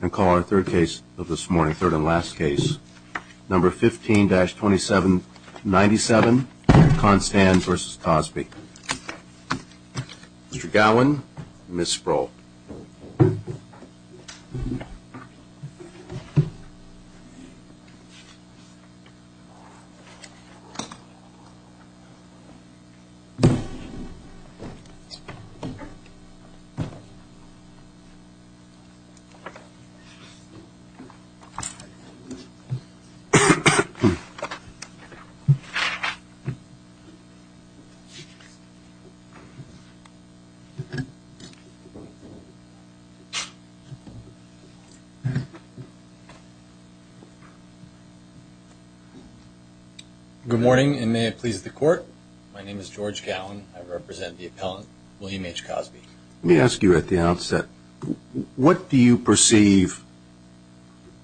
and call our third case of this morning third and last case number 15-27 97 Constance versus Cosby. Mr. Gowan, Ms. Sproul Good morning and may it please the court. My name is George Gowan. I represent the appellant William H. Cosby. Let me ask you at the outset, what do you perceive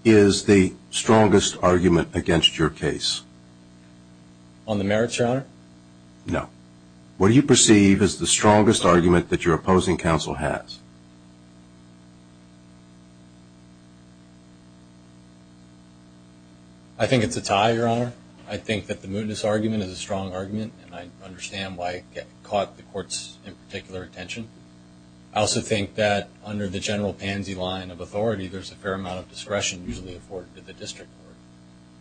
is the strongest argument against your case? On the merits, your honor? No. What do you perceive is the strongest argument that your opposing counsel has? I think it's a tie, your honor. I think that the mootness argument is a strong argument. And I understand why it caught the court's particular attention. I also think that under the general pansy line of authority, there's a fair amount of discretion usually afforded to the district court.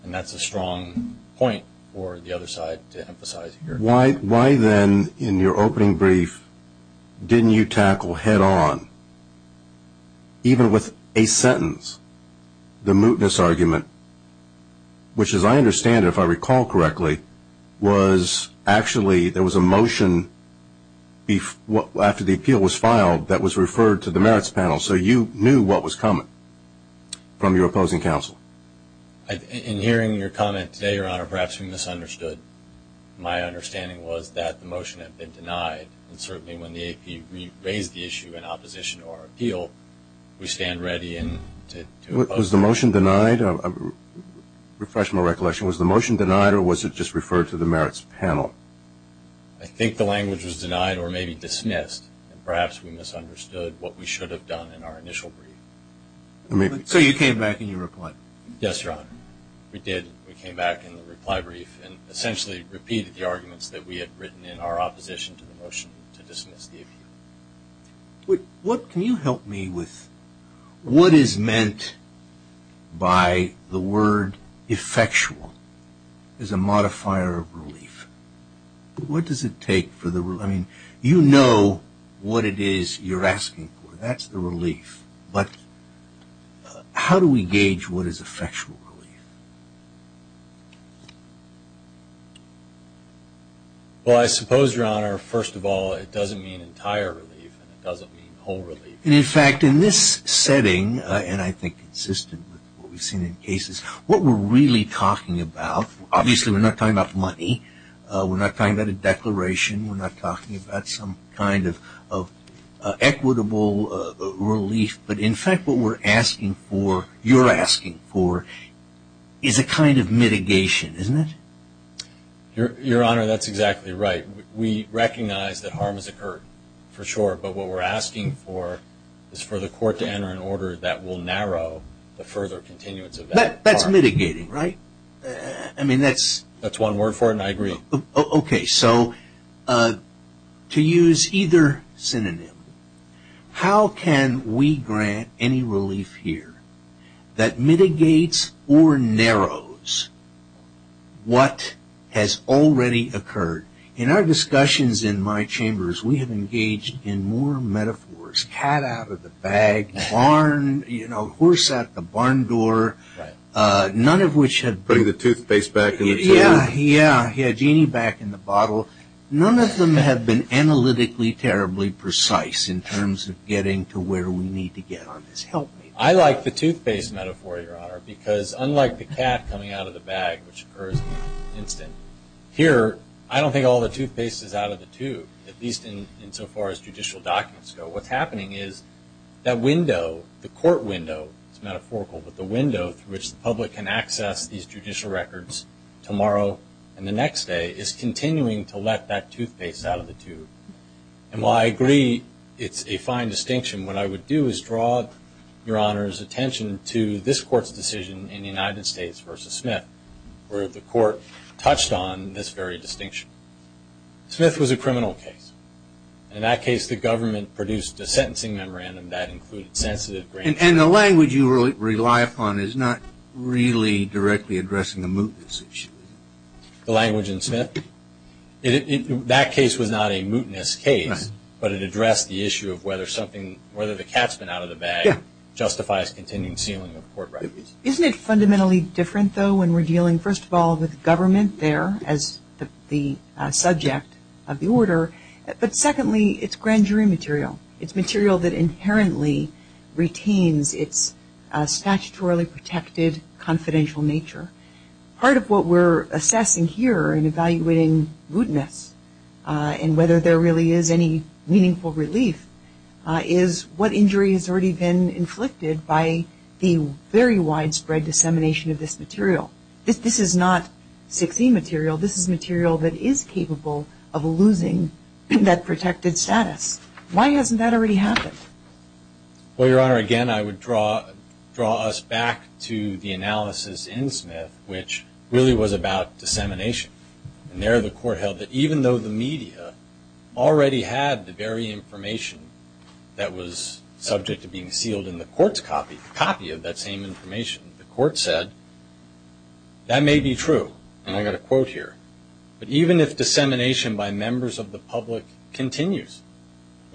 And that's a strong point for the other side to emphasize here. Why then in your opening brief, didn't you tackle head on, even with a sentence, the mootness argument, which as I understand it, if I recall correctly, was actually there was a motion after the appeal was filed that was referred to the merits panel. So you knew what was coming from your opposing counsel. In hearing your comment today, your honor, perhaps we misunderstood. My understanding was that the motion had been denied. And certainly when the AP raised the issue in opposition to our appeal, we stand ready to oppose it. Was the motion denied? Refresh my recollection. Was the motion denied or was it just referred to the merits panel? I think the language was denied or maybe dismissed. Perhaps we misunderstood what we should have done in our initial brief. So you came back and you replied. Yes, your honor. We did. We came back in the reply brief and essentially repeated the arguments that we had written in our opposition to the motion to dismiss the appeal. What can you help me with? What is meant by the word effectual as a modifier of relief? What does it take for the I mean, you know what it is you're asking for. That's the relief. But how do we gauge what is effectual relief? Well, I suppose, your honor, first of all, it doesn't mean entire relief and it doesn't mean whole relief. And in fact, in this setting, and I think consistent with what we've seen in cases, what we're really talking about, obviously we're not talking about money. We're not talking about a declaration. We're not talking about some kind of equitable relief. But in fact, what we're asking for, you're asking for is a kind of mitigation, isn't it? Your honor, that's exactly right. We recognize that harm has occurred for sure. But what we're asking for is for the court to enter an order that will narrow the further continuance of that. That's mitigating, right? I mean, that's that's one word for it. I agree. Okay. So to use either synonym, how can we grant any relief here that mitigates or narrows what has already occurred? In our discussions in my chambers, we have engaged in more metaphors, cat out of the bag, barn, you know, horse out the barn door, none of which have Putting the toothpaste back in the tube. Yeah, yeah, yeah, genie back in the bottle. None of them have been analytically terribly precise in terms of getting to where we need to get on this. Help me. I like the toothpaste metaphor, your honor, because unlike the cat coming out of the bag, which occurs in an instant, here, I don't think all the toothpaste is out of the tube, at least in so far as judicial documents go. What's happening is that window, the court window, it's metaphorical, but the window through which the public can access these judicial records tomorrow and the next day is continuing to let that toothpaste out of the tube. And while I agree it's a fine distinction, what I would do is draw your honor's attention to this court's decision in the United States versus Smith, where the court touched on this very distinction. Smith was a criminal case. In that case, the government produced a sentencing memorandum that included sensitive grantees. And the language you rely upon is not really directly addressing the mootness issue. The language in Smith? That case was not a mootness case, but it addressed the issue of whether something, whether the cat's been out of the bag justifies continuing sealing of court records. Isn't it fundamentally different, though, when we're dealing, first of all, with government there as the subject of the order, but secondly, it's grand jury material. It's material that inherently retains its statutorily protected, confidential nature. Part of what we're assessing here in evaluating mootness and whether there really is any meaningful relief is what injury has already been inflicted by the very widespread dissemination of this material. This is not 16 material, this is material that is capable of losing that protected status. Why hasn't that already happened? Well, your honor, again, I would draw us back to the analysis in Smith, which really was about dissemination. And there the court held that even though the media already had the very information that was subject to being sealed in the court's copy, a copy of that same information, the court said, that may be true. And I've got a quote here. But even if dissemination by members of the public continues,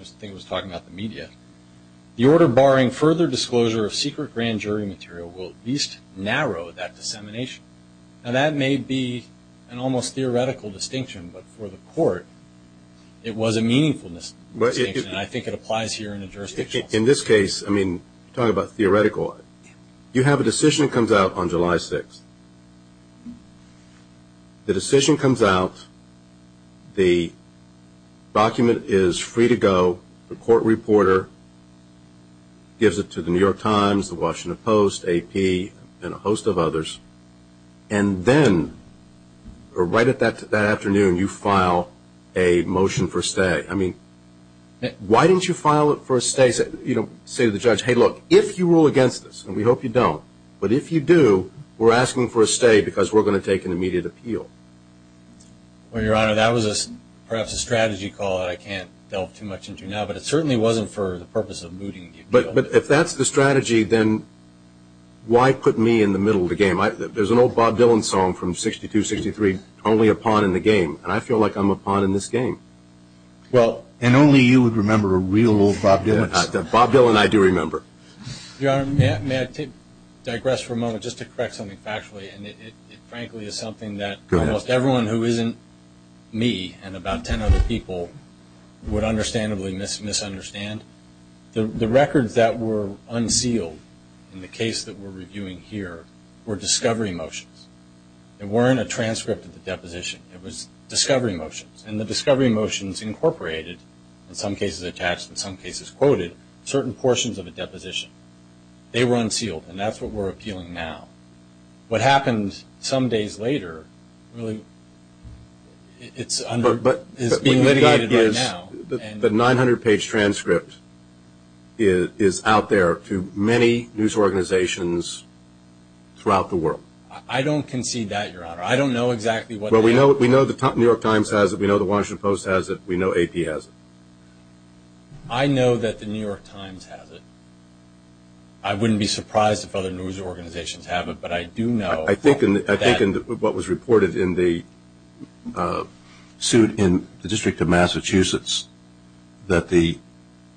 as the thing was talking about the media, the order barring further disclosure of secret grand jury material will at least narrow that dissemination. Now that may be an almost theoretical distinction, but for the court, it was a meaningful distinction. And I think it applies here in the jurisdiction. In this case, I mean, talking about theoretical, you have a decision that comes out on July 6th. The decision comes out, the document is free to go, the court reporter gives it to the New York Times, the Washington Post, AP, and a host of others. And then, right at that afternoon, you file a motion for stay. I mean, why didn't you file it for a stay, say to the judge, hey, look, if you rule against this, and we hope you don't, but if you do, we're asking for a stay because we're going to take an immediate appeal. Well, your honor, that was perhaps a strategy call that I can't delve too much into now. But it certainly wasn't for the purpose of mooting the appeal. But if that's the strategy, then why put me in the middle of the game? There's an old Bob Dylan song from 62, 63, only a pawn in the game. And I feel like I'm a pawn in this game. Well, and only you would remember a real old Bob Dylan. Bob Dylan, I do remember. Your honor, may I digress for a moment just to correct something factually? And it frankly is something that almost everyone who isn't me and about 10 other people would understandably misunderstand. The records that were unsealed in the case that we're reviewing here were discovery motions. They weren't a transcript of the deposition. It was discovery motions. And the discovery motions incorporated, in some cases attached, in some cases quoted, certain portions of a deposition. They were unsealed. And that's what we're appealing now. What happened some days later really is being litigated right now. The 900-page transcript is out there to many news organizations throughout the world. I don't concede that, your honor. I don't know exactly what that is. Well, we know the New York Times has it. We know the Washington Post has it. We know AP has it. I know that the New York Times has it. I wouldn't be surprised if other news organizations have it. But I do know that- that the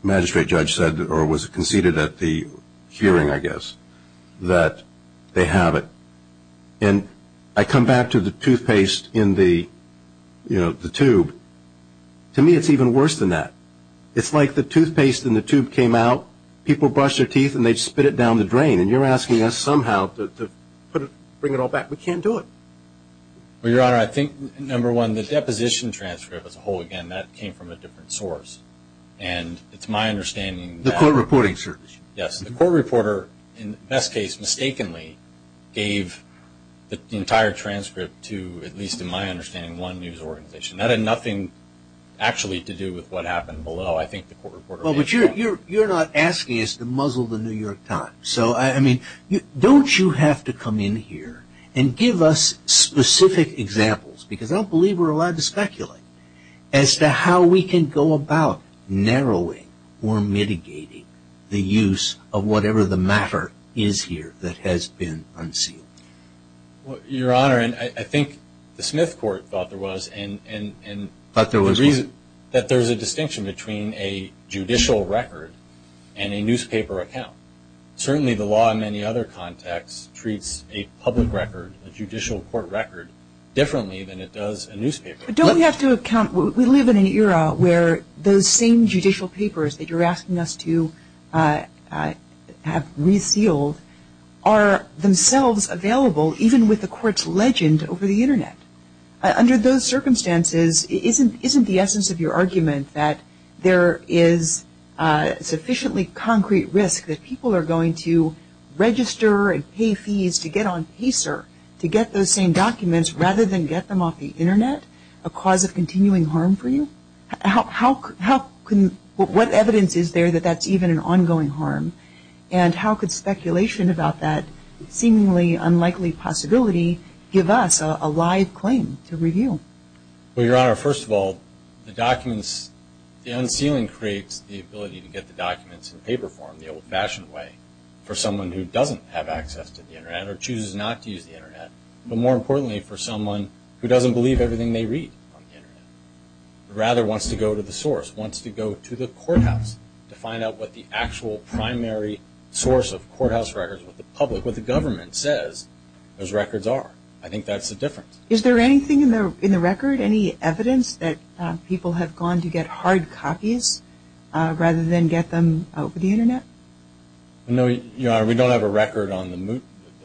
magistrate judge said, or was conceded at the hearing, I guess, that they have it. And I come back to the toothpaste in the, you know, the tube. To me, it's even worse than that. It's like the toothpaste in the tube came out, people brushed their teeth, and they spit it down the drain. And you're asking us somehow to bring it all back. We can't do it. Well, your honor, I think, number one, the deposition transcript as a whole, again, that came from a different source. And it's my understanding that- The court reporting service. Yes. The court reporter, in the best case, mistakenly gave the entire transcript to, at least in my understanding, one news organization. That had nothing actually to do with what happened below. I think the court reporter- Well, but you're not asking us to muzzle the New York Times. So, I mean, don't you have to come in here and give us specific examples? Because I don't believe we're allowed to speculate. As to how we can go about narrowing, or mitigating, the use of whatever the matter is here that has been unsealed. Your honor, and I think the Smith court thought there was, and- Thought there was what? That there's a distinction between a judicial record and a newspaper account. Certainly, the law in many other contexts treats a public record, a judicial court record, differently than it does a newspaper. Don't we have to account, we live in an era where those same judicial papers that you're asking us to have resealed are themselves available, even with the court's legend over the internet. Under those circumstances, isn't the essence of your argument that there is sufficiently concrete risk that people are going to register and pay fees to get on Pacer to get those same documents rather than get them off the internet? A cause of continuing harm for you? What evidence is there that that's even an ongoing harm? And how could speculation about that seemingly unlikely possibility give us a live claim to review? Well, your honor, first of all, the documents, the unsealing creates the ability to get the documents in paper form, the old fashioned way for someone who doesn't have access to the internet, or chooses not to use the internet. But more importantly, for someone who doesn't believe everything they read. And rather wants to go to the source, wants to go to the courthouse to find out what the actual primary source of courthouse records, what the public, what the government says those records are. I think that's the difference. Is there anything in there in the record, any evidence that people have gone to get hard copies rather than get them over the internet? No, your honor, we don't have a record on the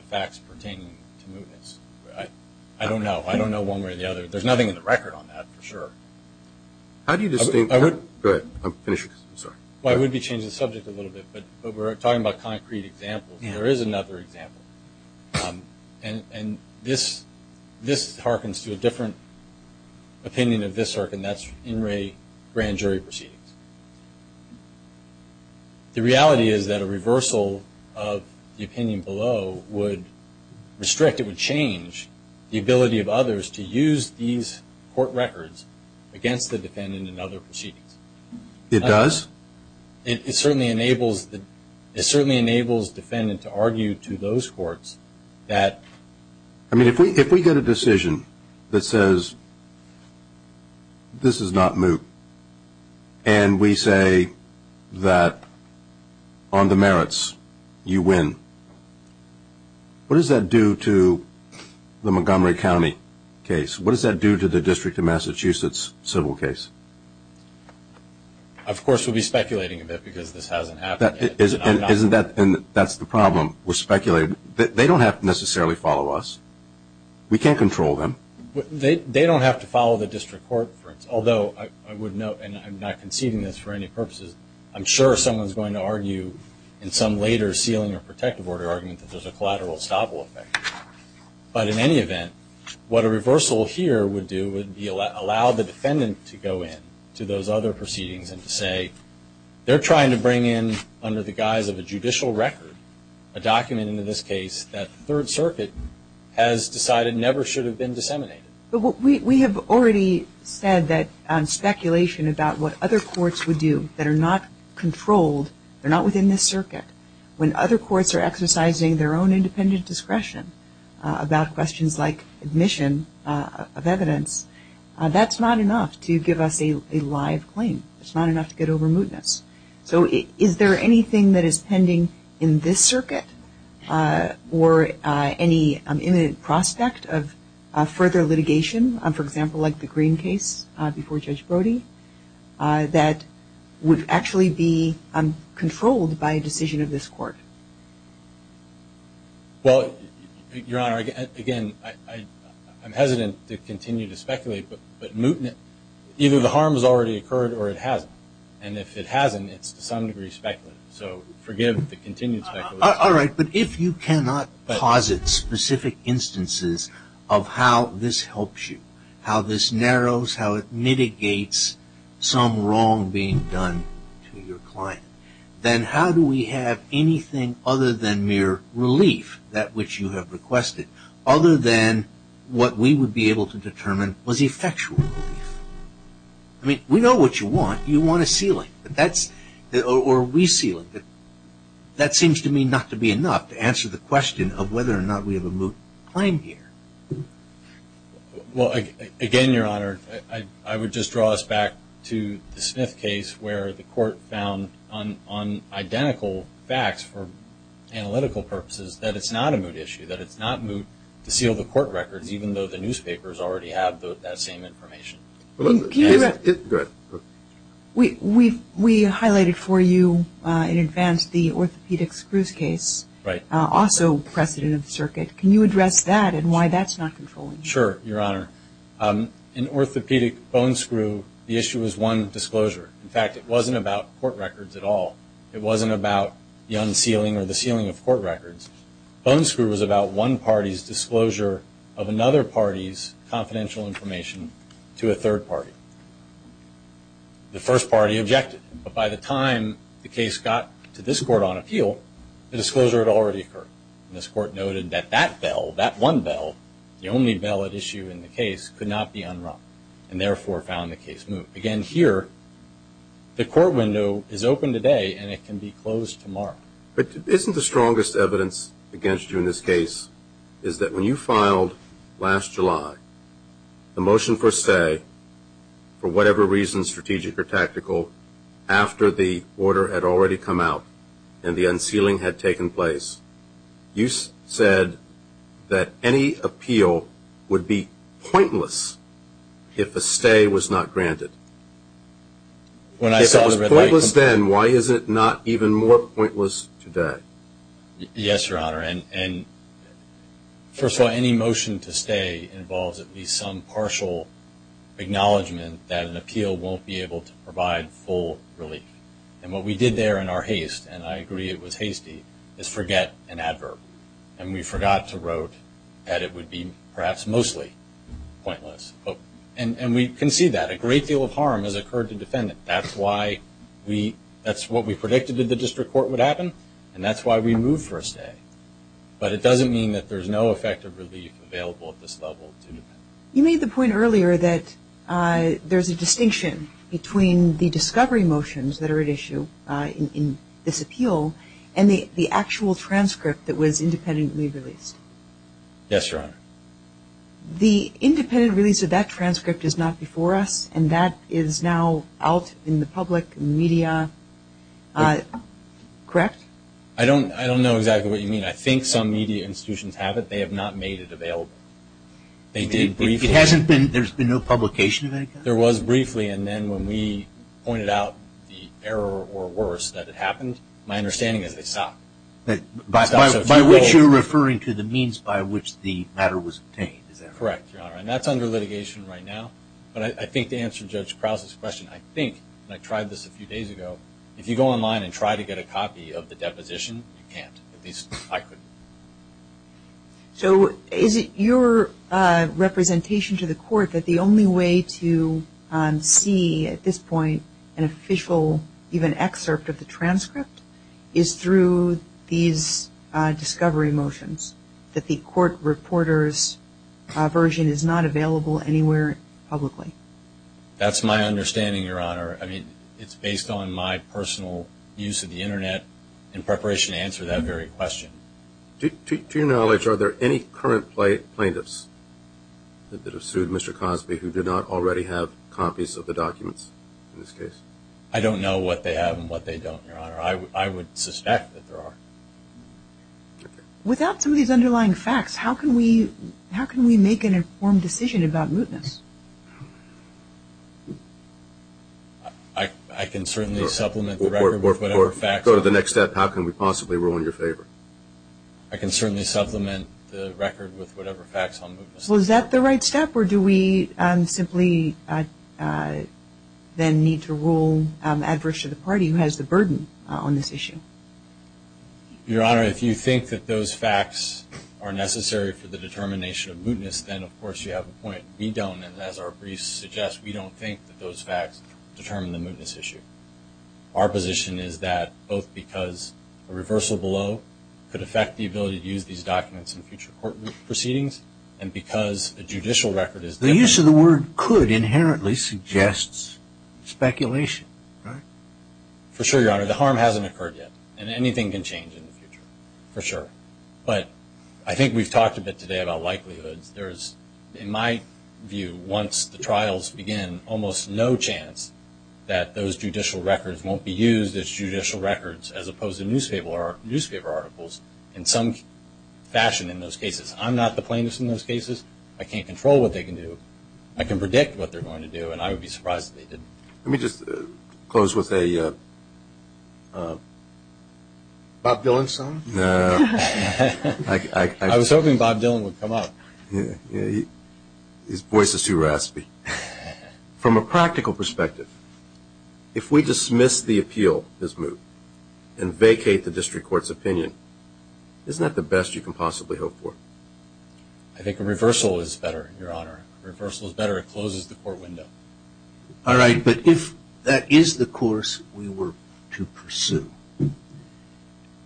facts pertaining to mootness. I don't know. I don't know one way or the other. There's nothing in the record on that, for sure. How do you distinguish? Go ahead, finish, I'm sorry. Why would we change the subject a little bit? But we're talking about concrete examples. There is another example. And this hearkens to a different opinion of this hearken, that's in ray grand jury proceedings. The reality is that a reversal of the opinion below would restrict, change the ability of others to use these court records against the defendant in other proceedings. It does? It certainly enables the defendant to argue to those courts that... I mean, if we get a decision that says this is not moot, and we say that on the merits you win, what does that do to the Montgomery County case? What does that do to the District of Massachusetts civil case? Of course, we'll be speculating a bit because this hasn't happened yet. Isn't that, and that's the problem. We're speculating. They don't have to necessarily follow us. We can't control them. They don't have to follow the district court, for instance. Although I would note, and I'm not conceding this for any purposes, I'm sure someone's going to argue in some later sealing or protection case argument that there's a collateral estoppel effect. But in any event, what a reversal here would do would be allow the defendant to go in to those other proceedings and to say, they're trying to bring in under the guise of a judicial record, a document in this case that the Third Circuit has decided never should have been disseminated. But we have already said that speculation about what other courts would do that are not controlled, they're not within this circuit. When other courts are exercising their own independent discretion about questions like admission of evidence, that's not enough to give us a live claim. It's not enough to get over mootness. So is there anything that is pending in this circuit or any imminent prospect of further litigation, for example, like the Green case before Judge Brody, that would actually be controlled by a decision of this court? Well, Your Honor, again, I'm hesitant to continue to speculate, but either the harm has already occurred or it hasn't. And if it hasn't, it's to some degree speculative. So forgive the continued speculation. All right, but if you cannot posit specific instances of how this helps you, how this narrows, how it mitigates some wrong being done to your client, then how do we have anything other than mere relief that which you have requested, other than what we would be able to determine was effectual relief? I mean, we know what you want. You want a ceiling, or resealing. That seems to me not to be enough to answer the question of whether or not we have a moot claim here. Well, again, Your Honor, I would just draw us back to the Smith case, where the court found on identical facts, for analytical purposes, that it's not a moot issue, that it's not moot to seal the court records, even though the newspapers already have that same information. We highlighted for you in advance the orthopedic screws case, also precedent of the circuit. Can you address that and why that's not controlling? Sure, Your Honor. In orthopedic bone screw, the issue was one disclosure. In fact, it wasn't about court records at all. It wasn't about the unsealing or the sealing of court records. Bone screw was about one party's disclosure of another party's confidential information to a third party. The first party objected. But by the time the case got to this court on appeal, the disclosure had already occurred. This court noted that that bell, that one bell, the only bell at issue in the case, could not be unrung, and therefore found the case moot. Again, here, the court window is open today, and it can be closed tomorrow. But isn't the strongest evidence against you in this case is that when you filed last July, the motion for say, for whatever reason, strategic or tactical, after the order had already come out and the unsealing had taken place, you said that any appeal would be pointless if a stay was not granted. When I said it was pointless then, why is it not even more pointless today? Yes, Your Honor. And first of all, any motion to stay involves at least some partial acknowledgment that an appeal won't be able to provide full relief. And what we did there in our haste, and I agree it was hasty, is forget an adverb. And we forgot to wrote that it would be perhaps mostly pointless. And we can see that. A great deal of harm has occurred to defendant. That's why we, that's what we predicted that the district court would happen, and that's why we moved for a stay. But it doesn't mean that there's no effective relief available at this level. You made the point earlier that there's a distinction between the discovery motions that are at issue in this appeal and the actual transcript that was independently released. Yes, Your Honor. The independent release of that transcript is not before us, and that is now out in the public media. Correct? I don't know exactly what you mean. I think some media institutions have it. They have not made it available. They did briefly. It hasn't been, there's been no publication of any kind? There was briefly, and then when we pointed out the error or worse that it happened, my understanding is they stopped. By which you're referring to the means by which the matter was obtained, is that correct? Correct, Your Honor. And that's under litigation right now. But I think to answer Judge Krause's question, I think, and I tried this a few days ago, if you go online and try to get a copy of the deposition, you can't. At least I couldn't. So is it your representation to the court that the only way to see at this point an official, even excerpt of the transcript, is through these discovery motions? That the court reporter's version is not available anywhere publicly? That's my understanding, Your Honor. I mean, it's based on my personal use of the internet in preparation to answer that very question. To your knowledge, are there any current plaintiffs that have sued Mr. Cosby who do not already have copies of the documents in this case? I don't know what they have and what they don't, Your Honor. I would suspect that there are. Without some of these underlying facts, how can we make an informed decision about mootness? I can certainly supplement the record with whatever facts. Go to the next step. How can we possibly rule in your favor? I can certainly supplement the record with whatever facts on mootness. Is that the right step or do we simply then need to rule adverse to the party who has the burden on this issue? Your Honor, if you think that those facts are necessary for the determination of mootness, then of course you have a point. We don't and as our briefs suggest, we don't think that those facts determine the mootness issue. Our position is that both because a reversal below could affect the ability to use these documents in future court proceedings and because a judicial record is... The use of the word could inherently suggests speculation, right? For sure, Your Honor. The harm hasn't occurred yet and anything can change in the future, for sure. But I think we've talked a bit today about likelihoods. There's, in my view, once the trials begin, almost no chance that those judicial records won't be used as judicial records as opposed to newspaper articles in some fashion in those cases. I'm not the plaintiff in those cases. I can't control what they can do. I can predict what they're going to do and I would be surprised if they didn't. Let me just close with a Bob Dylan song. I was hoping Bob Dylan would come up. His voice is too raspy. From a practical perspective, if we dismiss the appeal as moot and vacate the district court's opinion, isn't that the best you can possibly hope for? I think a reversal is better, Your Honor. Reversal is better. It closes the court window. All right, but if that is the course we were to pursue,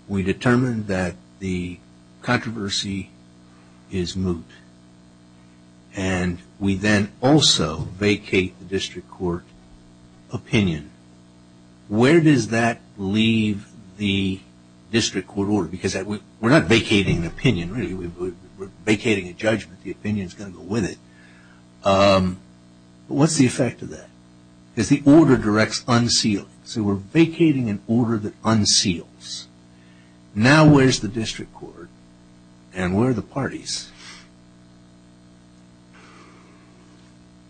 we determined that the controversy is moot and we then also vacate the district court opinion, where does that leave the district court order? Because we're not vacating an opinion, really. We're vacating a judgment. The opinion is going to go with it. But what's the effect of that? Because the order directs unsealing. So we're vacating an order that unseals. Now where's the district court and where are the parties?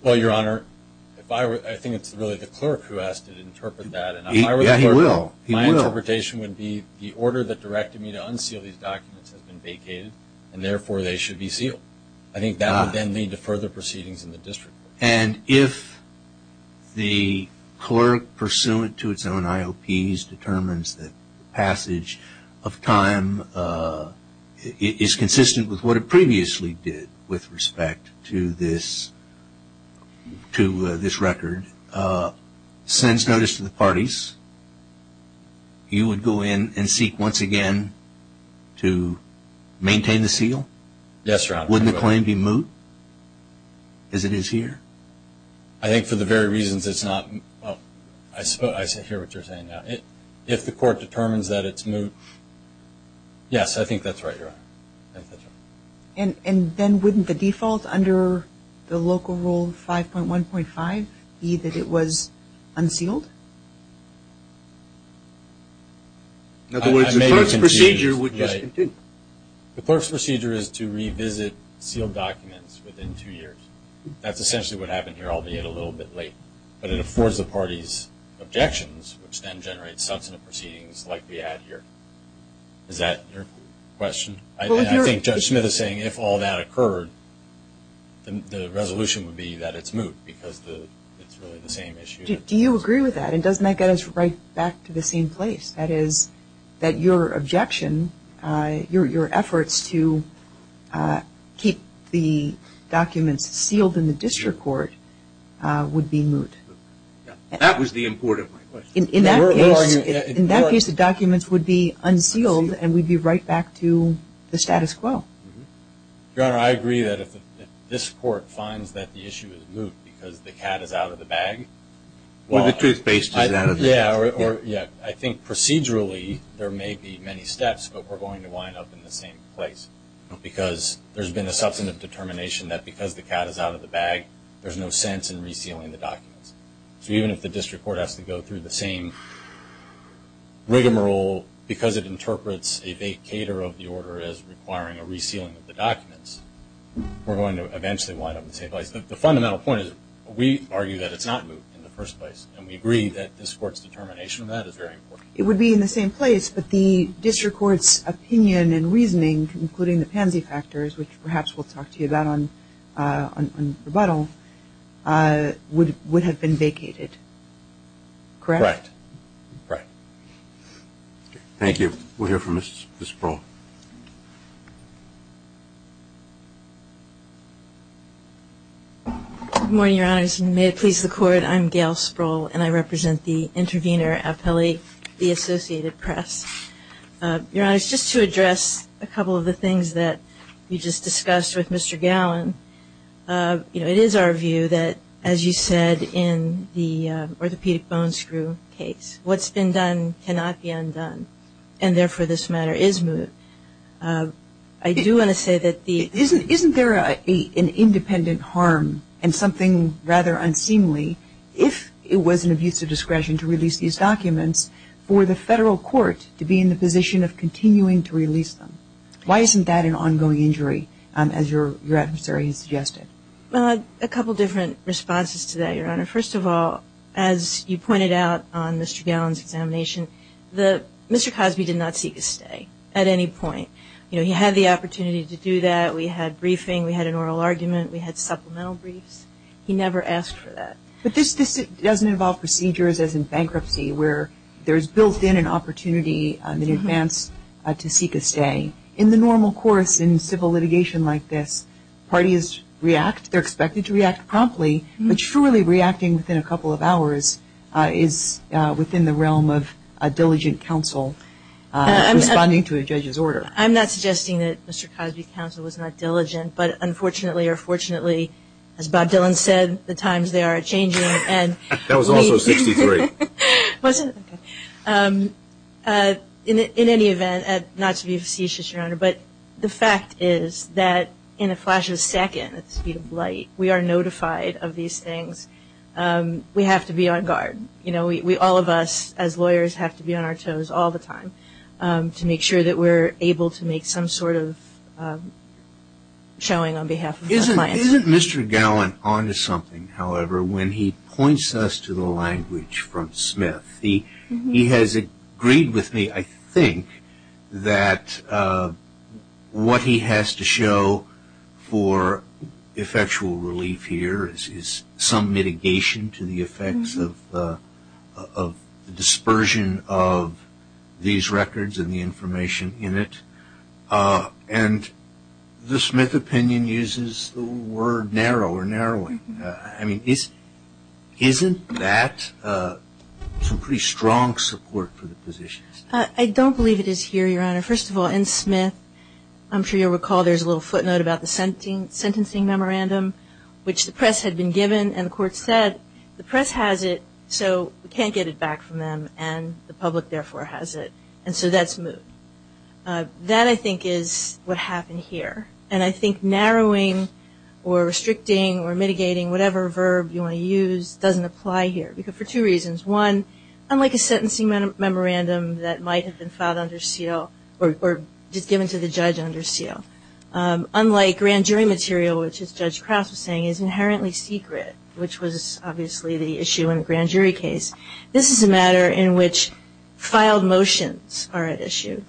Well, Your Honor, I think it's really the clerk who has to interpret that. Yeah, he will. My interpretation would be the order that directed me to unseal these documents has been vacated and therefore they should be sealed. I think that would then lead to further proceedings in the district court. And if the clerk, pursuant to its own IOPs, that passage of time is consistent with what it previously did with respect to this record, sends notice to the parties, you would go in and seek once again to maintain the seal? Yes, Your Honor. Wouldn't the claim be moot as it is here? I think for the very reasons it's not, well, I hear what you're saying now. If the court determines that it's moot, yes, I think that's right, Your Honor. And then wouldn't the default under the local rule 5.1.5 be that it was unsealed? In other words, the clerk's procedure would just continue? The clerk's procedure is to revisit sealed documents within two years. That's essentially what happened here, albeit a little bit late. But it affords the parties objections, which then generates substantive proceedings like we had here. Is that your question? I think Judge Smith is saying if all that occurred, then the resolution would be that it's moot because it's really the same issue. Do you agree with that? It does make us right back to the same place. That is, that your objection, your efforts to keep the documents sealed in the district court would be moot. That was the import of my question. In that case, the documents would be unsealed and we'd be right back to the status quo. Your Honor, I agree that if this court finds that the issue is moot because the cat is out of the bag. Or the toothpaste is out of the bag. I think procedurally, there may be many steps, but we're going to wind up in the same place. Because there's been a substantive determination that because the cat is out of the bag, there's no sense in resealing the documents. So even if the district court has to go through the same rigmarole because it interprets a vacator of the order as requiring a resealing of the documents, we're going to eventually wind up in the same place. The fundamental point is we argue that it's not moot in the first place. And we agree that this court's determination of that is very important. It would be in the same place, but the district court's opinion and reasoning, including the pansy factors, which perhaps we'll talk to you about on rebuttal, would have been vacated. Correct? Correct. Thank you. We'll hear from Ms. Sproul. Good morning, Your Honors. May it please the Court. I'm Gail Sproul, and I represent the intervener appellee, the Associated Press. Your Honors, just to address a couple of the things that we just discussed with Mr. Gallin, you know, it is our view that, as you said in the orthopedic bone screw case, what's been done cannot be undone. And therefore, this matter is moot. I do want to say that the Isn't there an independent harm and something rather unseemly if it was an abuse of discretion to release these documents for the federal court to be in the position of continuing to release them? Why isn't that an ongoing injury, as your adversary has suggested? Well, a couple different responses to that, Your Honor. First of all, as you pointed out on Mr. Gallin's examination, Mr. Cosby did not seek a stay at any point. You know, he had the opportunity to do that. We had briefing. We had an oral argument. We had supplemental briefs. He never asked for that. But this doesn't involve procedures, as in bankruptcy, where there's built in an opportunity in advance to seek a stay. In the normal course in civil litigation like this, parties react. They're expected to react promptly. But surely reacting within a couple of hours is within the realm of a diligent counsel responding to a judge's order. I'm not suggesting that Mr. Cosby's counsel was not diligent. But unfortunately or fortunately, as Bob Dylan said, the times, they are changing. And that was also 63. In any event, not to be facetious, Your Honor, but the fact is that in a flash of a second, at the speed of light, we are notified of these things. We have to be on guard. You know, we all of us as lawyers have to be on our toes all the time to make sure that we're able to make some sort of showing on behalf of our clients. Isn't Mr. Gallin onto something, however, when he points us to the language from Smith? He has agreed with me, I think, that what he has to show for effectual relief here is some mitigation to the effects of the dispersion of these records and the information in it. And the Smith opinion uses the word narrow or narrowing. I mean, isn't that some pretty strong support for the positions? I don't believe it is here, Your Honor. First of all, in Smith, I'm sure you'll recall there's a little footnote about the sentencing memorandum which the press had been given and the court said, the press has it so we can't get it back from them and the public, therefore, has it. And so that's moved. That, I think, is what happened here. And I think narrowing or restricting or mitigating whatever verb you want to use doesn't apply here for two reasons. One, unlike a sentencing memorandum that might have been filed under seal or just given to the judge under seal. Unlike grand jury material, which, as Judge Krauss was saying, is inherently secret, which was obviously the issue in a grand jury case, this is a matter in which filed motions are at issue.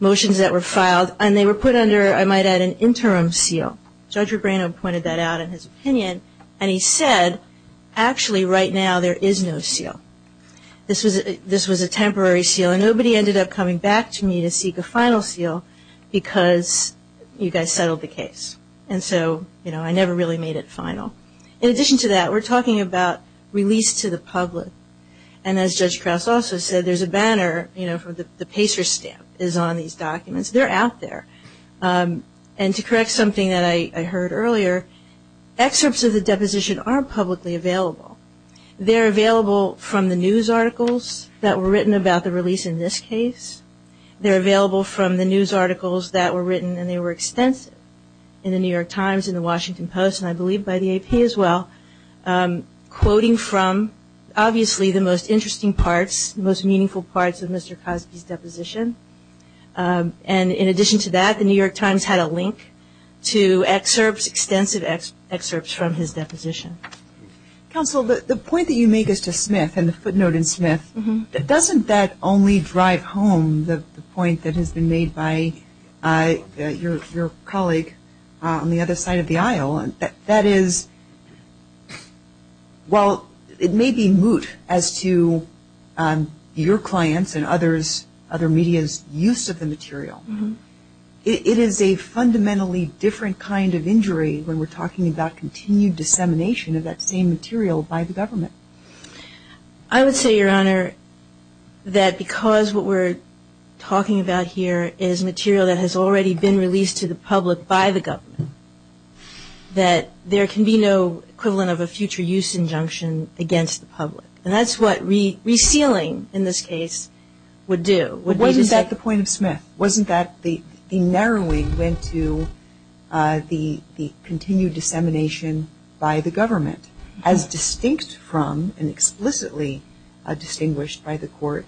Motions that were filed and they were put under, I might add, an interim seal. Judge Rebrano pointed that out in his opinion and he said, actually, right now, there is no seal. This was a temporary seal and nobody ended up coming back to me to seek a final seal because you guys settled the case. And so, you know, I never really made it final. In addition to that, we're talking about release to the public. And as Judge Krauss also said, there's a banner, you know, for the Pacer stamp is on these documents. They're out there. And to correct something that I heard earlier, excerpts of the deposition aren't publicly available. They're available from the news articles that were written about the release in this case. They're available from the news articles that were written and they were extensive in the New York Times, in the Washington Post, and I believe by the AP as well, quoting from, obviously, the most interesting parts, the most meaningful parts of Mr. Cosby's deposition. And in addition to that, the New York Times had a link to excerpts, extensive excerpts from his deposition. Counsel, the point that you make as to Smith and the footnote in Smith, doesn't that only drive home the point that has been made by your colleague on the other side of the aisle? That is, well, it may be moot as to your clients and others, other media's use of the material. It is a fundamentally different kind of injury when we're talking about continued dissemination of that same material by the government. I would say, Your Honor, that because what we're talking about here is material that has already been released to the public by the government, that there can be no equivalent of a future use injunction against the public. And that's what resealing, in this case, would do. But wasn't that the point of Smith? Wasn't that the narrowing went to the continued dissemination by the government, as distinct from and explicitly distinguished by the court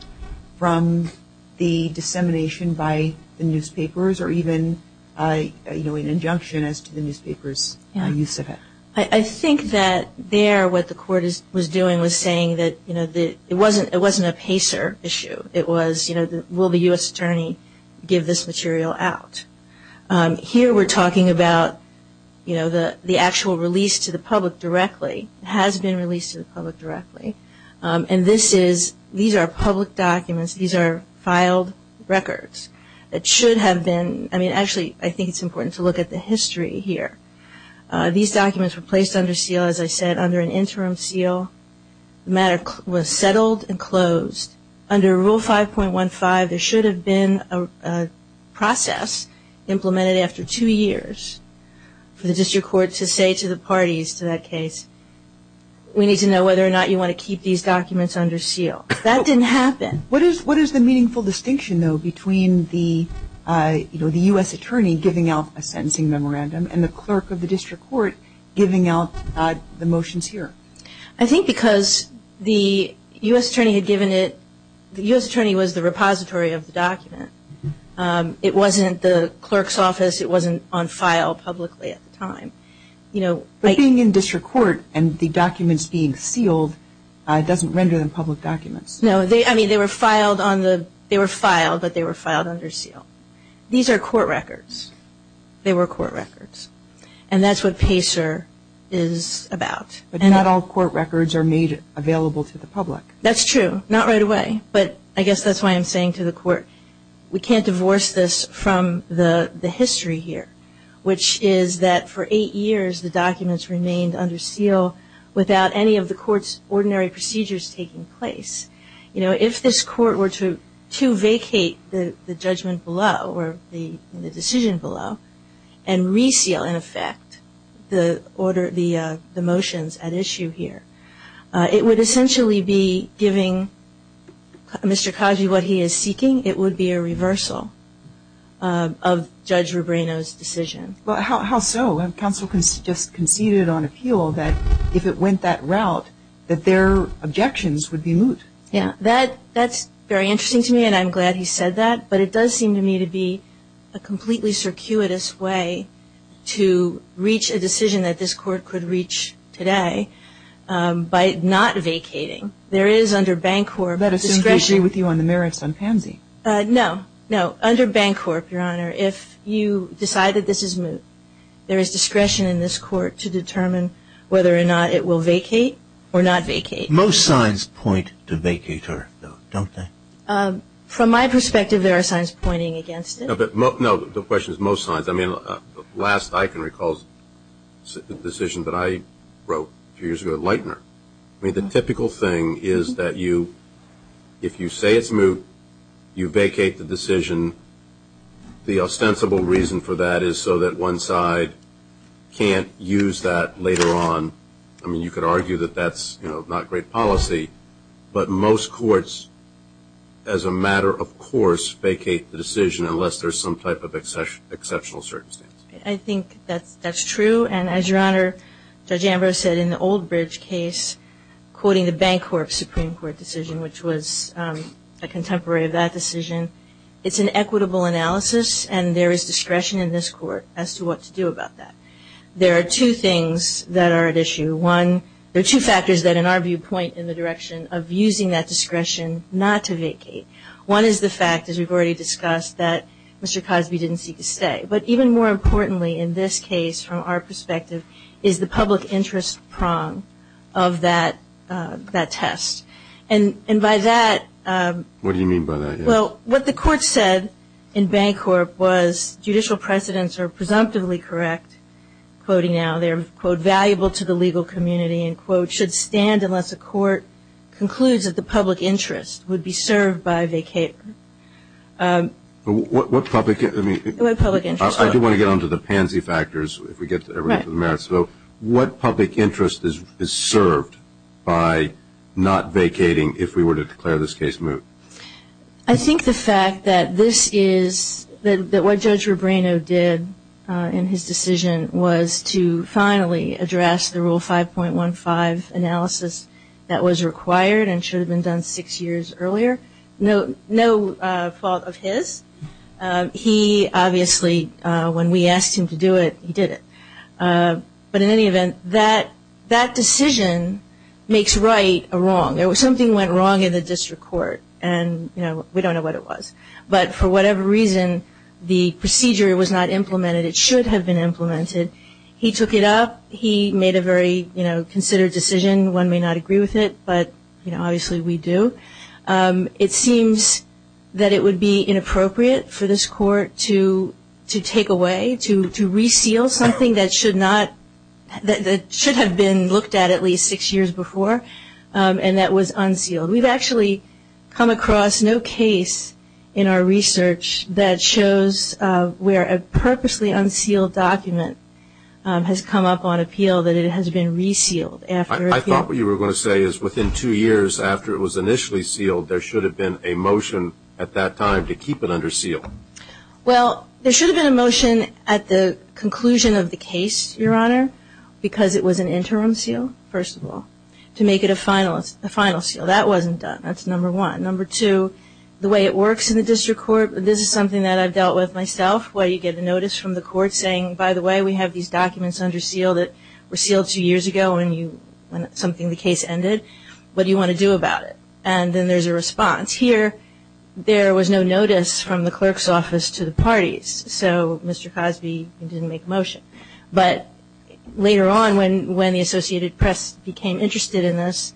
from the dissemination by the newspapers or even an injunction as to the newspapers' use of it? I think that there what the court was doing was saying that it wasn't a PACER issue. It was, will the U.S. Attorney give this material out? Here we're talking about, you know, the actual release to the public directly. It has been released to the public directly. And this is, these are public documents. These are filed records. It should have been, I mean, actually, I think it's important to look at the history here. These documents were placed under seal, as I said, under an interim seal. The matter was settled and closed. Under Rule 5.15, there should have been a process implemented after two years for the district court to say to the parties to that case, we need to know whether or not you want to keep these documents under seal. That didn't happen. What is the meaningful distinction, though, between the, you know, the U.S. Attorney giving out a sentencing memorandum and the clerk of the district court giving out the motions here? I think because the U.S. Attorney had given it, the U.S. Attorney was the repository of the document. It wasn't the clerk's office. It wasn't on file publicly at the time. You know. But being in district court and the documents being sealed doesn't render them public documents. No, they, I mean, they were filed on the, they were filed, but they were filed under seal. These are court records. They were court records. And that's what PACER is about. But not all court records are made available to the public. That's true. Not right away. But I guess that's why I'm saying to the court, we can't divorce this from the history here, which is that for eight years, the documents remained under seal without any of the court's ordinary procedures taking place. You know, if this court were to vacate the judgment below or the decision below and reseal, in effect, the order, the motions at issue here, it would essentially be giving Mr. Khaji what he is seeking. It would be a reversal of Judge Rubrino's decision. Well, how so? Counsel just conceded on appeal that if it went that route, that their objections would be moot. Yeah, that's very interesting to me. And I'm glad he said that. But it does seem to me to be a completely circuitous way to reach a decision that this court could reach today by not vacating. There is under Bancorp discretion. That assumes they agree with you on the merits on pansy. No, no. Under Bancorp, Your Honor, if you decide that this is moot, there is discretion in this court to determine whether or not it will vacate or not vacate. Most signs point to vacater, though, don't they? From my perspective, there are signs pointing against it. But no, the question is most signs. I mean, last I can recall the decision that I wrote a few years ago at Lightner. I mean, the typical thing is that if you say it's moot, you vacate the decision. The ostensible reason for that is so that one side can't use that later on. I mean, you could argue that that's not great policy. But most courts, as a matter of course, vacate the decision unless there's some type of exceptional circumstance. I think that's true. And as Your Honor, Judge Ambrose said in the Old Bridge case, quoting the Bancorp Supreme Court decision, which was a contemporary of that decision, it's an equitable analysis. And there is discretion in this court as to what to do about that. There are two things that are at issue. There are two factors that, in our view, point in the direction of using that discretion not to vacate. One is the fact, as we've already discussed, that Mr. Cosby didn't seek to stay. But even more importantly in this case, from our perspective, is the public interest prong of that test. And by that— What do you mean by that? Well, what the court said in Bancorp was judicial precedents are presumptively correct, quoting now. They're, quote, valuable to the legal community, end quote, should stand unless a court concludes that the public interest would be served by vacating. What public— What public interest? I do want to get on to the pansy factors if we get to the merits. So what public interest is served by not vacating if we were to declare this case moot? I think the fact that this is— that what Judge Rubrino did in his decision was to finally address the Rule 5.15 analysis that was required and should have been done six years earlier. No fault of his. He obviously, when we asked him to do it, he did it. But in any event, that decision makes right or wrong. Something went wrong in the district court and, you know, we don't know what it was. But for whatever reason, the procedure was not implemented. It should have been implemented. He took it up. He made a very, you know, considered decision. One may not agree with it, but, you know, obviously we do. It seems that it would be inappropriate for this court to take away, to reseal something that should not— that should have been looked at at least six years before. And that was unsealed. We've actually come across no case in our research that shows where a purposely unsealed document has come up on appeal that it has been resealed after— I thought what you were going to say is within two years after it was initially sealed, there should have been a motion at that time to keep it under seal. Well, there should have been a motion at the conclusion of the case, Your Honor, because it was an interim seal, first of all. To make it a final seal. That wasn't done. That's number one. Number two, the way it works in the district court, this is something that I've dealt with myself where you get a notice from the court saying, by the way, we have these documents under seal that were sealed two years ago when you—when something—the case ended. What do you want to do about it? And then there's a response. Here, there was no notice from the clerk's office to the parties, so Mr. Cosby didn't make a motion. But later on, when the Associated Press became interested in this,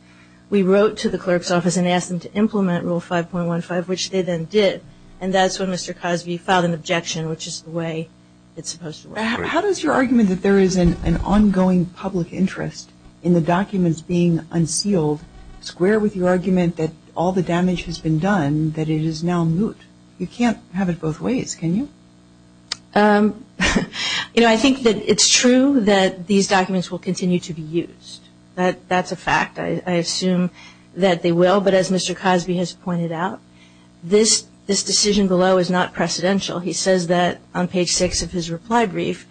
we wrote to the clerk's office and asked them to implement Rule 5.15, which they then did. And that's when Mr. Cosby filed an objection, which is the way it's supposed to work. How does your argument that there is an ongoing public interest in the documents being unsealed square with your argument that all the damage has been done, that it is now moot? You can't have it both ways, can you? You know, I think that it's true that these documents will continue to be used. That's a fact. I assume that they will. But as Mr. Cosby has pointed out, this decision below is not precedential. He says that on page 6 of his reply brief,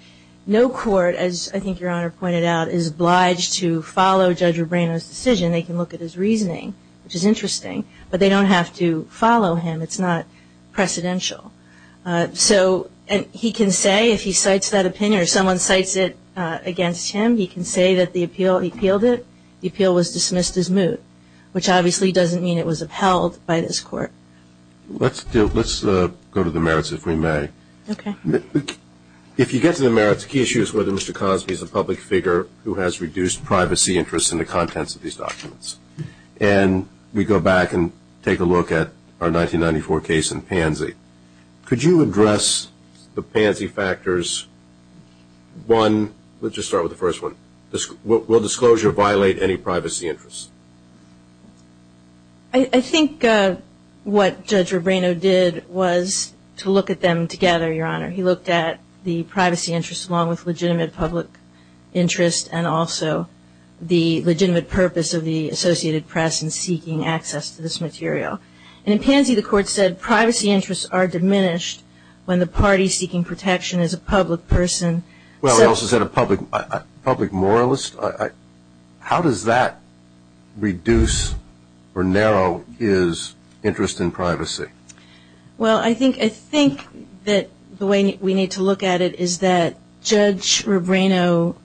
no court, as I think Your Honor pointed out, is obliged to follow Judge Rubino's decision. They can look at his reasoning, which is interesting, but they don't have to follow him. It's not precedential. So he can say, if he cites that opinion or someone cites it against him, he can say that the appeal, he appealed it, the appeal was dismissed as moot, which obviously doesn't mean it was upheld by this court. Let's go to the merits, if we may. If you get to the merits, the key issue is whether Mr. Cosby is a public figure who has reduced privacy interests in the contents of these documents. And we go back and take a look at our 1994 case in Pansy. Could you address the Pansy factors? One, let's just start with the first one. Will disclosure violate any privacy interests? I think what Judge Rubino did was to look at them together, Your Honor. He looked at the privacy interests along with legitimate public interest and also the legitimate purpose of the Associated Press in seeking access to this material. And in Pansy, the court said privacy interests are diminished when the party seeking protection is a public person. Well, it also said a public moralist. How does that reduce or narrow his interest in privacy? Well, I think that the way we need to look at it is that Judge Rubino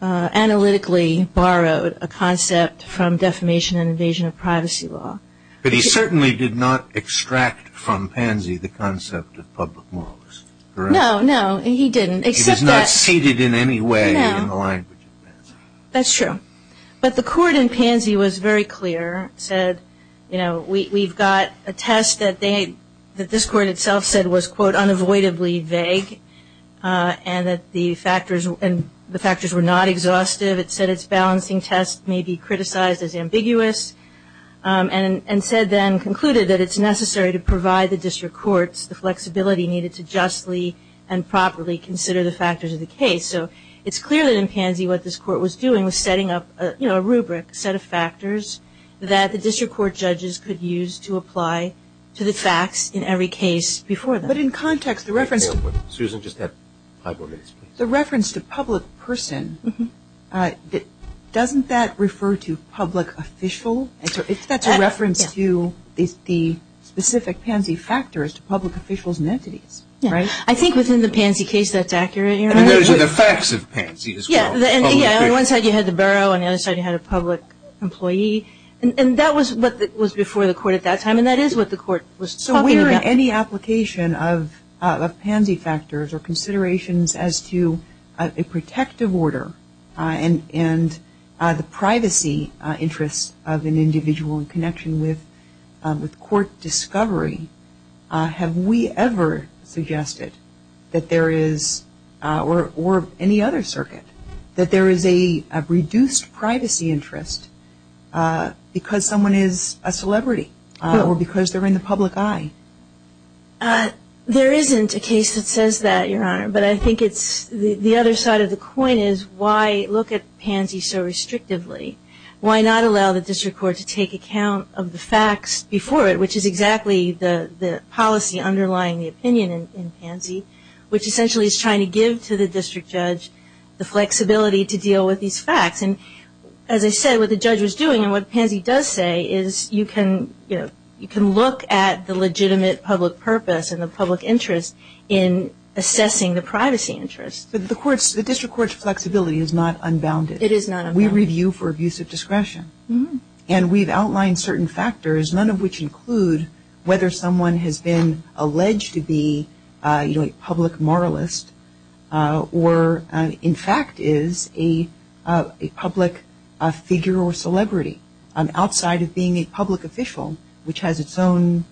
analytically borrowed a concept from defamation and invasion of privacy law. But he certainly did not extract from Pansy the concept of public moralist, correct? No, no, he didn't. It is not stated in any way in the language of Pansy. That's true. But the court in Pansy was very clear, said, you know, we've got a test that this court itself said was, quote, unavoidably vague and that the factors were not exhaustive. It said its balancing test may be criticized as ambiguous and said then, concluded that it's necessary to provide the district courts the flexibility needed to justly and properly consider the factors of the case. So it's clear that in Pansy what this court was doing was setting up, you know, a rubric, a set of factors that the district court judges could use to apply to the facts in every case before them. But in context, the reference to... Susan, just add five more minutes, please. The reference to public person, doesn't that refer to public official? That's a reference to the specific Pansy factors to public officials and entities, right? I think within the Pansy case that's accurate. And those are the facts of Pansy as well. Yeah, and on one side you had the borough and on the other side you had a public employee. And that was what was before the court at that time. And that is what the court was talking about. Any application of Pansy factors or considerations as to a protective order and the privacy interests of an individual in connection with court discovery, have we ever suggested that there is, or any other circuit, that there is a reduced privacy interest because someone is a celebrity or because they're in the public eye? There isn't a case that says that, Your Honor. But I think it's the other side of the coin is why look at Pansy so restrictively? Why not allow the district court to take account of the facts before it, which is exactly the policy underlying the opinion in Pansy, which essentially is trying to give to the district judge the flexibility to deal with these facts. As I said, what the judge was doing and what Pansy does say is you can look at the legitimate public purpose and the public interest in assessing the privacy interest. But the district court's flexibility is not unbounded. It is not unbounded. We review for abuse of discretion. And we've outlined certain factors, none of which include whether someone has been a public figure or celebrity outside of being a public official, which has its own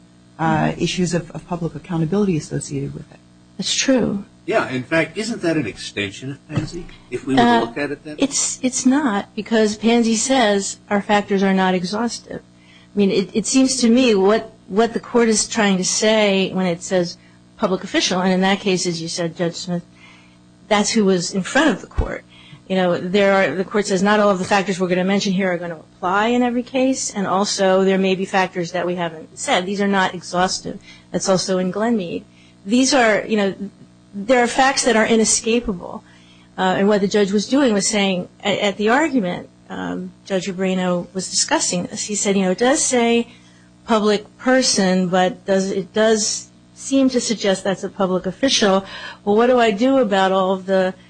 issues of public accountability associated with it. That's true. Yeah. In fact, isn't that an extension of Pansy, if we look at it that way? It's not because Pansy says our factors are not exhaustive. I mean, it seems to me what the court is trying to say when it says public official, and in that case, as you said, Judge Smith, that's who was in front of the court. You know, the court says not all of the factors we're going to mention here are going to apply in every case. And also, there may be factors that we haven't said. These are not exhaustive. That's also in Glenmead. These are, you know, there are facts that are inescapable. And what the judge was doing was saying at the argument, Judge Ubrino was discussing this. He said, you know, it does say public person, but it does seem to suggest that's a public official. Well, what do I do about all of the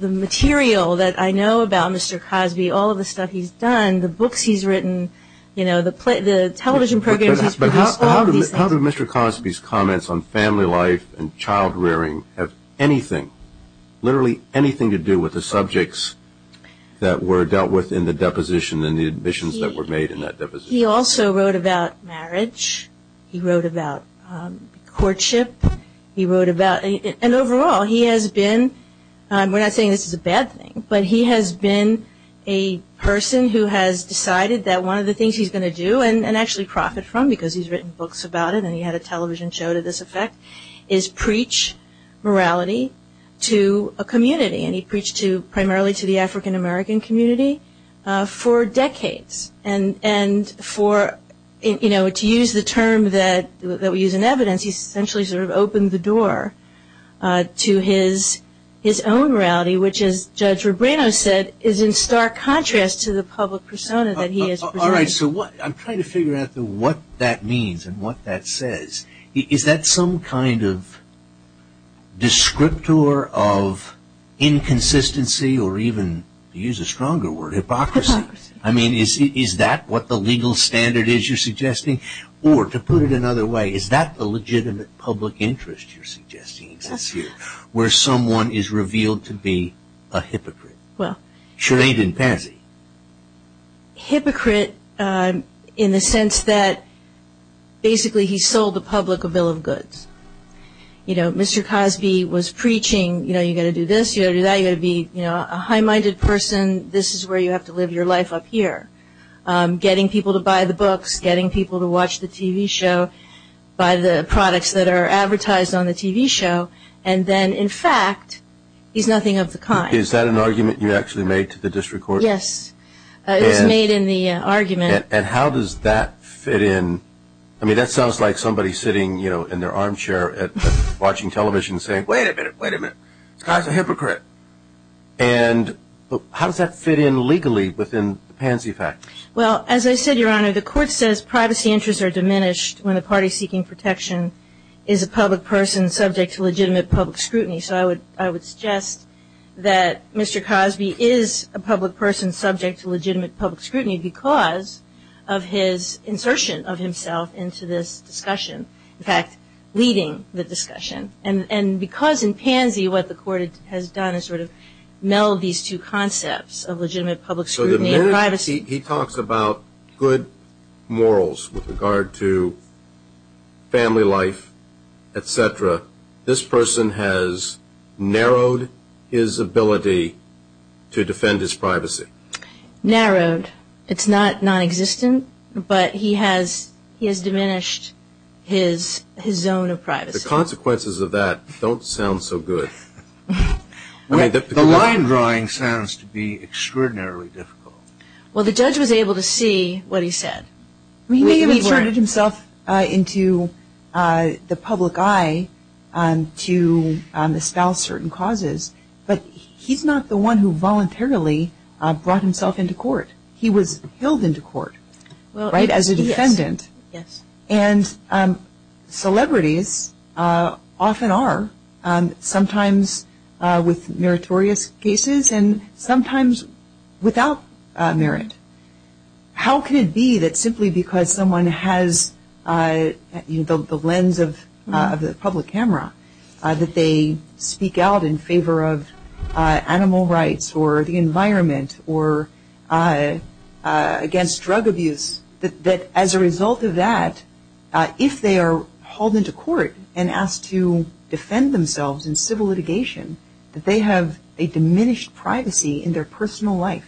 material that I know about Mr. Cosby? All of the stuff he's done, the books he's written, you know, the television programs he's produced, all of these things. But how do Mr. Cosby's comments on family life and child rearing have anything, literally anything, to do with the subjects that were dealt with in the deposition and the admissions that were made in that deposition? He also wrote about marriage. He wrote about courtship. He wrote about, and overall, he has been, we're not saying this is a bad thing, but he has been a person who has decided that one of the things he's going to do, and actually profit from because he's written books about it and he had a television show to this effect, is preach morality to a community. And he preached primarily to the African American community for decades. And for, you know, to use the term that we use in evidence, he essentially sort of opened the door to his own morality, which, as Judge Rubino said, is in stark contrast to the public persona that he has presented. All right, so I'm trying to figure out what that means and what that says. Is that some kind of descriptor of inconsistency or even, to use a stronger word, hypocrisy? I mean, is that what the legal standard is you're suggesting? Or, to put it another way, is that the legitimate public interest you're suggesting exists here, where someone is revealed to be a hypocrite? Well, hypocrite in the sense that basically he sold the public a bill of goods. You know, Mr. Cosby was preaching, you know, you've got to do this, you've got to do that, a high-minded person, this is where you have to live your life up here. Getting people to buy the books, getting people to watch the TV show, buy the products that are advertised on the TV show, and then, in fact, he's nothing of the kind. Is that an argument you actually made to the district court? Yes, it was made in the argument. And how does that fit in? I mean, that sounds like somebody sitting, you know, in their armchair watching television saying, wait a minute, wait a minute, this guy's a hypocrite. And how does that fit in legally within the Pansy factors? Well, as I said, Your Honor, the court says privacy interests are diminished when a party seeking protection is a public person subject to legitimate public scrutiny. So I would suggest that Mr. Cosby is a public person subject to legitimate public scrutiny because of his insertion of himself into this discussion, in fact, leading the discussion. And because in Pansy what the court has done is sort of meld these two concepts of legitimate public scrutiny and privacy. He talks about good morals with regard to family life, et cetera. This person has narrowed his ability to defend his privacy. Narrowed. It's not nonexistent, but he has diminished his zone of privacy. The consequences of that don't sound so good. The line drawing sounds to be extraordinarily difficult. Well, the judge was able to see what he said. He may have inserted himself into the public eye to espouse certain causes, but he's not the one who voluntarily brought himself into court. He was billed into court, right, as a defendant. Yes. And celebrities often are, sometimes with meritorious cases and sometimes without merit. How can it be that simply because someone has, you know, the lens of the public camera, that they speak out in favor of animal rights or the environment or against drug abuse, that as a result of that, if they are hauled into court and asked to defend themselves in civil litigation, that they have a diminished privacy in their personal life?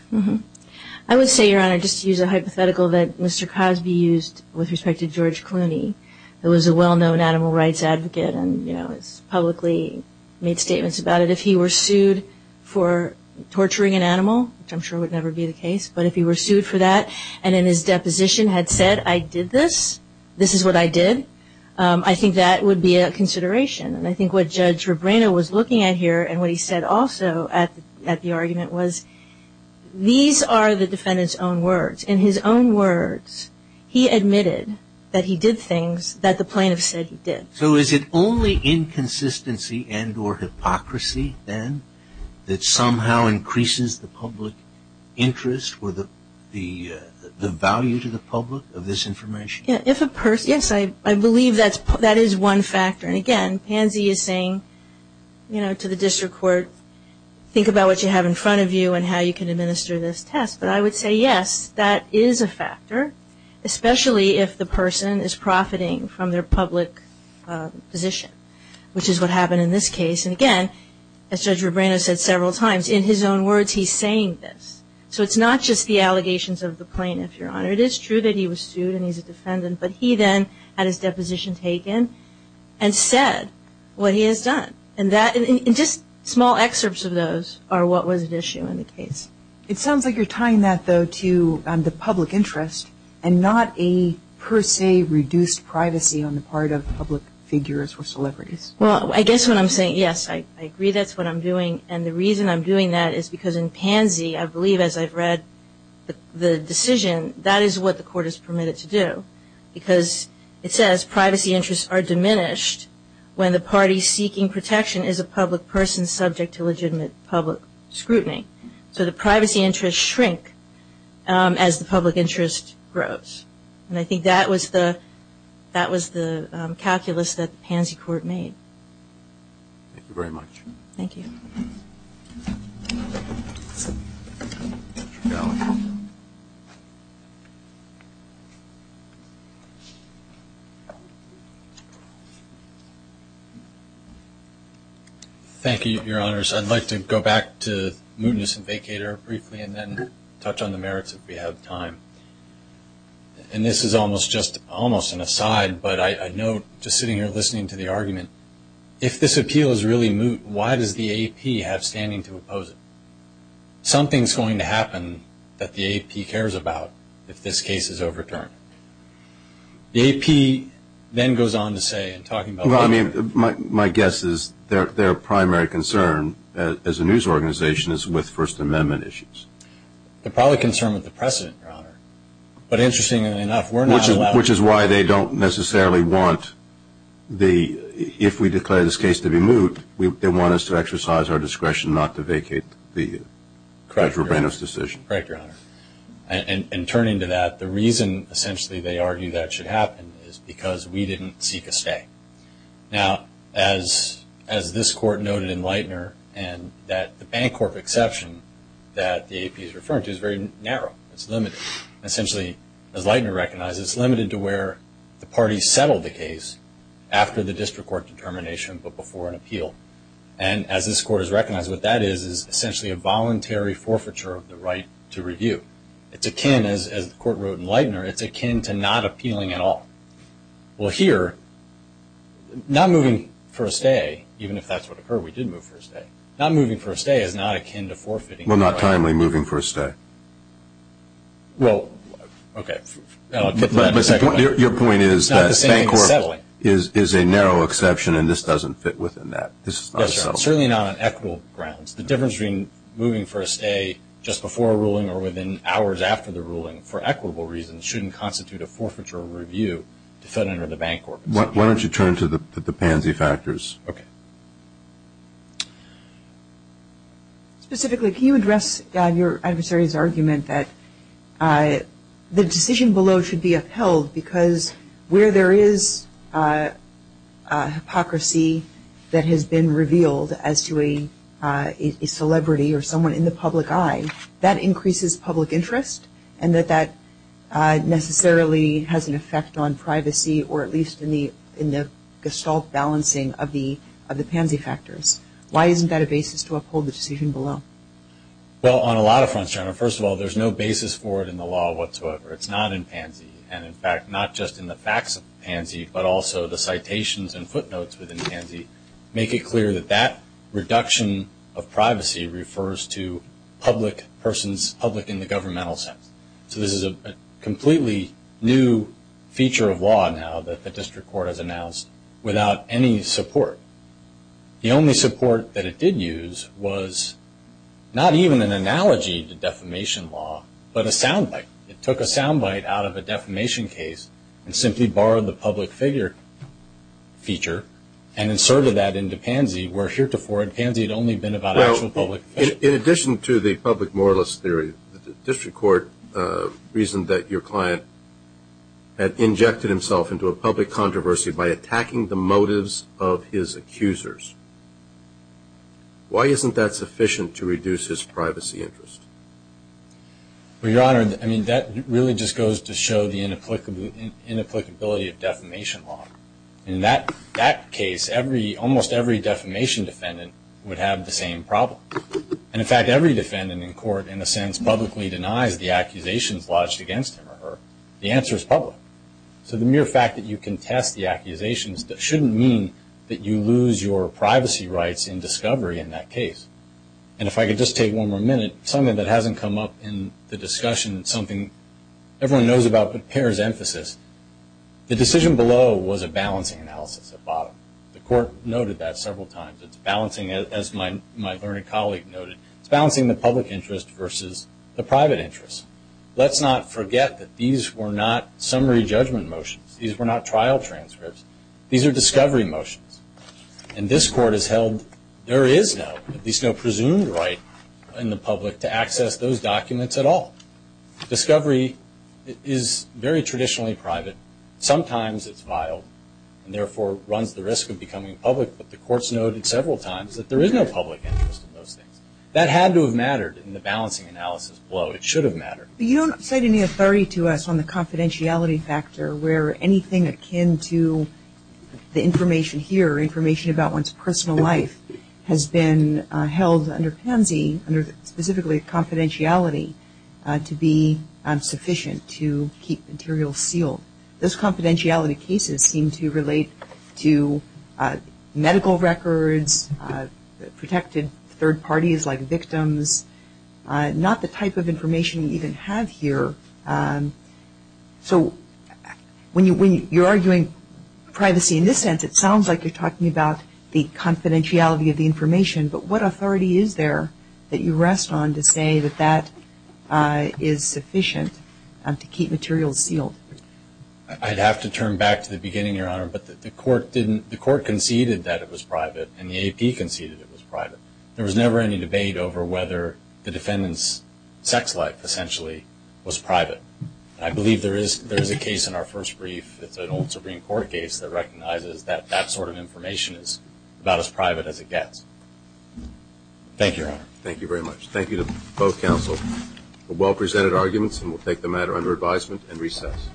I would say, Your Honor, just to use a hypothetical that Mr. Cosby used with respect to George Clooney, who was a well-known animal rights advocate and, you know, has publicly made statements about it. If he were sued for torturing an animal, which I'm sure would never be the case, but if he were sued for that and in his deposition had said, I did this, this is what I did, I think that would be a consideration. And I think what Judge Rubino was looking at here and what he said also at the argument was these are the defendant's own words. In his own words, he admitted that he did things that the plaintiff said he did. So is it only inconsistency and or hypocrisy, then, that somehow increases the public interest or the value to the public of this information? If a person, yes, I believe that is one factor. And again, Pansy is saying, you know, to the district court, think about what you have in front of you and how you can administer this test. But I would say, yes, that is a factor, especially if the person is profiting from their public position, which is what happened in this case. And again, as Judge Rubino said several times, in his own words, he's saying this. So it's not just the allegations of the plaintiff, Your Honor. It is true that he was sued and he's a defendant, but he then had his deposition taken and said what he has done. And that, and just small excerpts of those are what was at issue in the case. It sounds like you're tying that, though, to the public interest and not a per se reduced privacy on the part of public figures or celebrities. Well, I guess what I'm saying, yes, I agree that's what I'm doing. And the reason I'm doing that is because in Pansy, I believe as I've read the decision, that is what the court is permitted to do. Because it says privacy interests are diminished when the party seeking protection is a public person subject to legitimate public scrutiny. So the privacy interests shrink as the public interest grows. And I think that was the calculus that the Pansy court made. Thank you very much. Thank you. Thank you, Your Honors. I'd like to go back to Mootness and Vacator briefly and then touch on the merits if we have time. And this is almost just, almost an aside, but I know just sitting here listening to the argument, if this appeal is really Moot, why does the AP have standing to oppose it? Something's going to happen that the AP cares about if this case is overturned. The AP then goes on to say, and talking about the AP. My guess is their primary concern as a news organization is with First Amendment issues. They're probably concerned with the precedent, Your Honor. But interestingly enough, we're not allowed. Which is why they don't necessarily want the, if we declare this case to be Moot, they want us to exercise our discretion not to vacate the Judge Rubino's decision. Correct, Your Honor. And turning to that, the reason essentially they argue that should happen is because we didn't seek a stay. Now, as this court noted in Lightner, and that the Bancorp exception that the AP is referring to is very narrow. It's limited. Essentially, as Lightner recognizes, it's limited to where the parties settled the case after the district court determination, but before an appeal. And as this court has recognized, what that is, is essentially a voluntary forfeiture of the right to review. It's akin, as the court wrote in Lightner, it's akin to not appealing at all. Well, here, not moving for a stay, even if that's what occurred, we did move for a stay. Not moving for a stay is not akin to forfeiting. Well, not timely moving for a stay. Well, OK. I'll get to that in a second. Your point is that Bancorp is a narrow exception, and this doesn't fit within that. This is not a settlement. Certainly not on equitable grounds. The difference between moving for a stay just before a ruling or within hours after the ruling, for equitable reasons, shouldn't constitute a forfeiture of review to fit under the Bancorp exception. Why don't you turn to the pansy factors? OK. Specifically, can you address your adversary's argument that the decision below should be upheld because where there is hypocrisy that has been revealed as to a celebrity or someone in the public eye, that increases public interest, and that that necessarily has an effect on privacy, or at least in the gestalt balancing of the pansy factors? Why isn't that a basis to uphold the decision below? Well, on a lot of fronts, Jennifer. First of all, there's no basis for it in the law whatsoever. It's not in pansy. And in fact, not just in the facts of pansy, but also the citations and footnotes within pansy make it clear that that reduction of privacy refers to public persons, public in the governmental sense. So this is a completely new feature of law now that the district court has announced without any support. The only support that it did use was not even an analogy to defamation law, but a sound bite. It took a sound bite out of a defamation case and simply borrowed the public figure feature and inserted that into pansy, where heretofore pansy had only been about actual public. In addition to the public moralist theory, the district court reasoned that your client had injected himself into a public controversy by attacking the motives of his accusers. Why isn't that sufficient to reduce his privacy interest? Well, Your Honor, I mean, that really just goes to show the inapplicability of defamation law. In that case, almost every defamation defendant would have the same problem. And in fact, every defendant in court, in a sense, publicly denies the accusations lodged against him or her. The answer is public. So the mere fact that you contest the accusations shouldn't mean that you lose your privacy rights in discovery in that case. And if I could just take one more minute, something that hasn't come up in the discussion, something everyone knows about but pairs emphasis, the decision below was a balancing analysis at bottom. The court noted that several times. It's balancing, as my learned colleague noted, it's balancing the public interest versus the private interest. Let's not forget that these were not summary judgment motions. These were not trial transcripts. These are discovery motions. And this court has held there is no, at least no presumed right in the public to access those documents at all. Discovery is very traditionally private. Sometimes it's vile and therefore runs the risk of becoming public. But the courts noted several times that there is no public interest in those things. That had to have mattered in the balancing analysis below. It should have mattered. But you don't cite any authority to us on the confidentiality factor where anything akin to the information here, information about one's personal life, has been held under pansy, specifically confidentiality, to be sufficient to keep materials sealed. Those confidentiality cases seem to relate to medical records, protected third parties like victims, not the type of information you even have here. So when you're arguing privacy in this sense, it sounds like you're talking about the confidentiality of the information. But what authority is there that you rest on to say that that is sufficient to keep materials sealed? I'd have to turn back to the beginning, Your Honor. But the court conceded that it was private. And the AP conceded it was private. There was never any debate over whether the defendant's sex life, essentially, was private. I believe there is a case in our first brief. It's an old Supreme Court case that recognizes that that sort of information is about as private as it gets. Thank you, Your Honor. Thank you very much. Thank you to both counsel for well-presented arguments. And we'll take the matter under advisement and recess.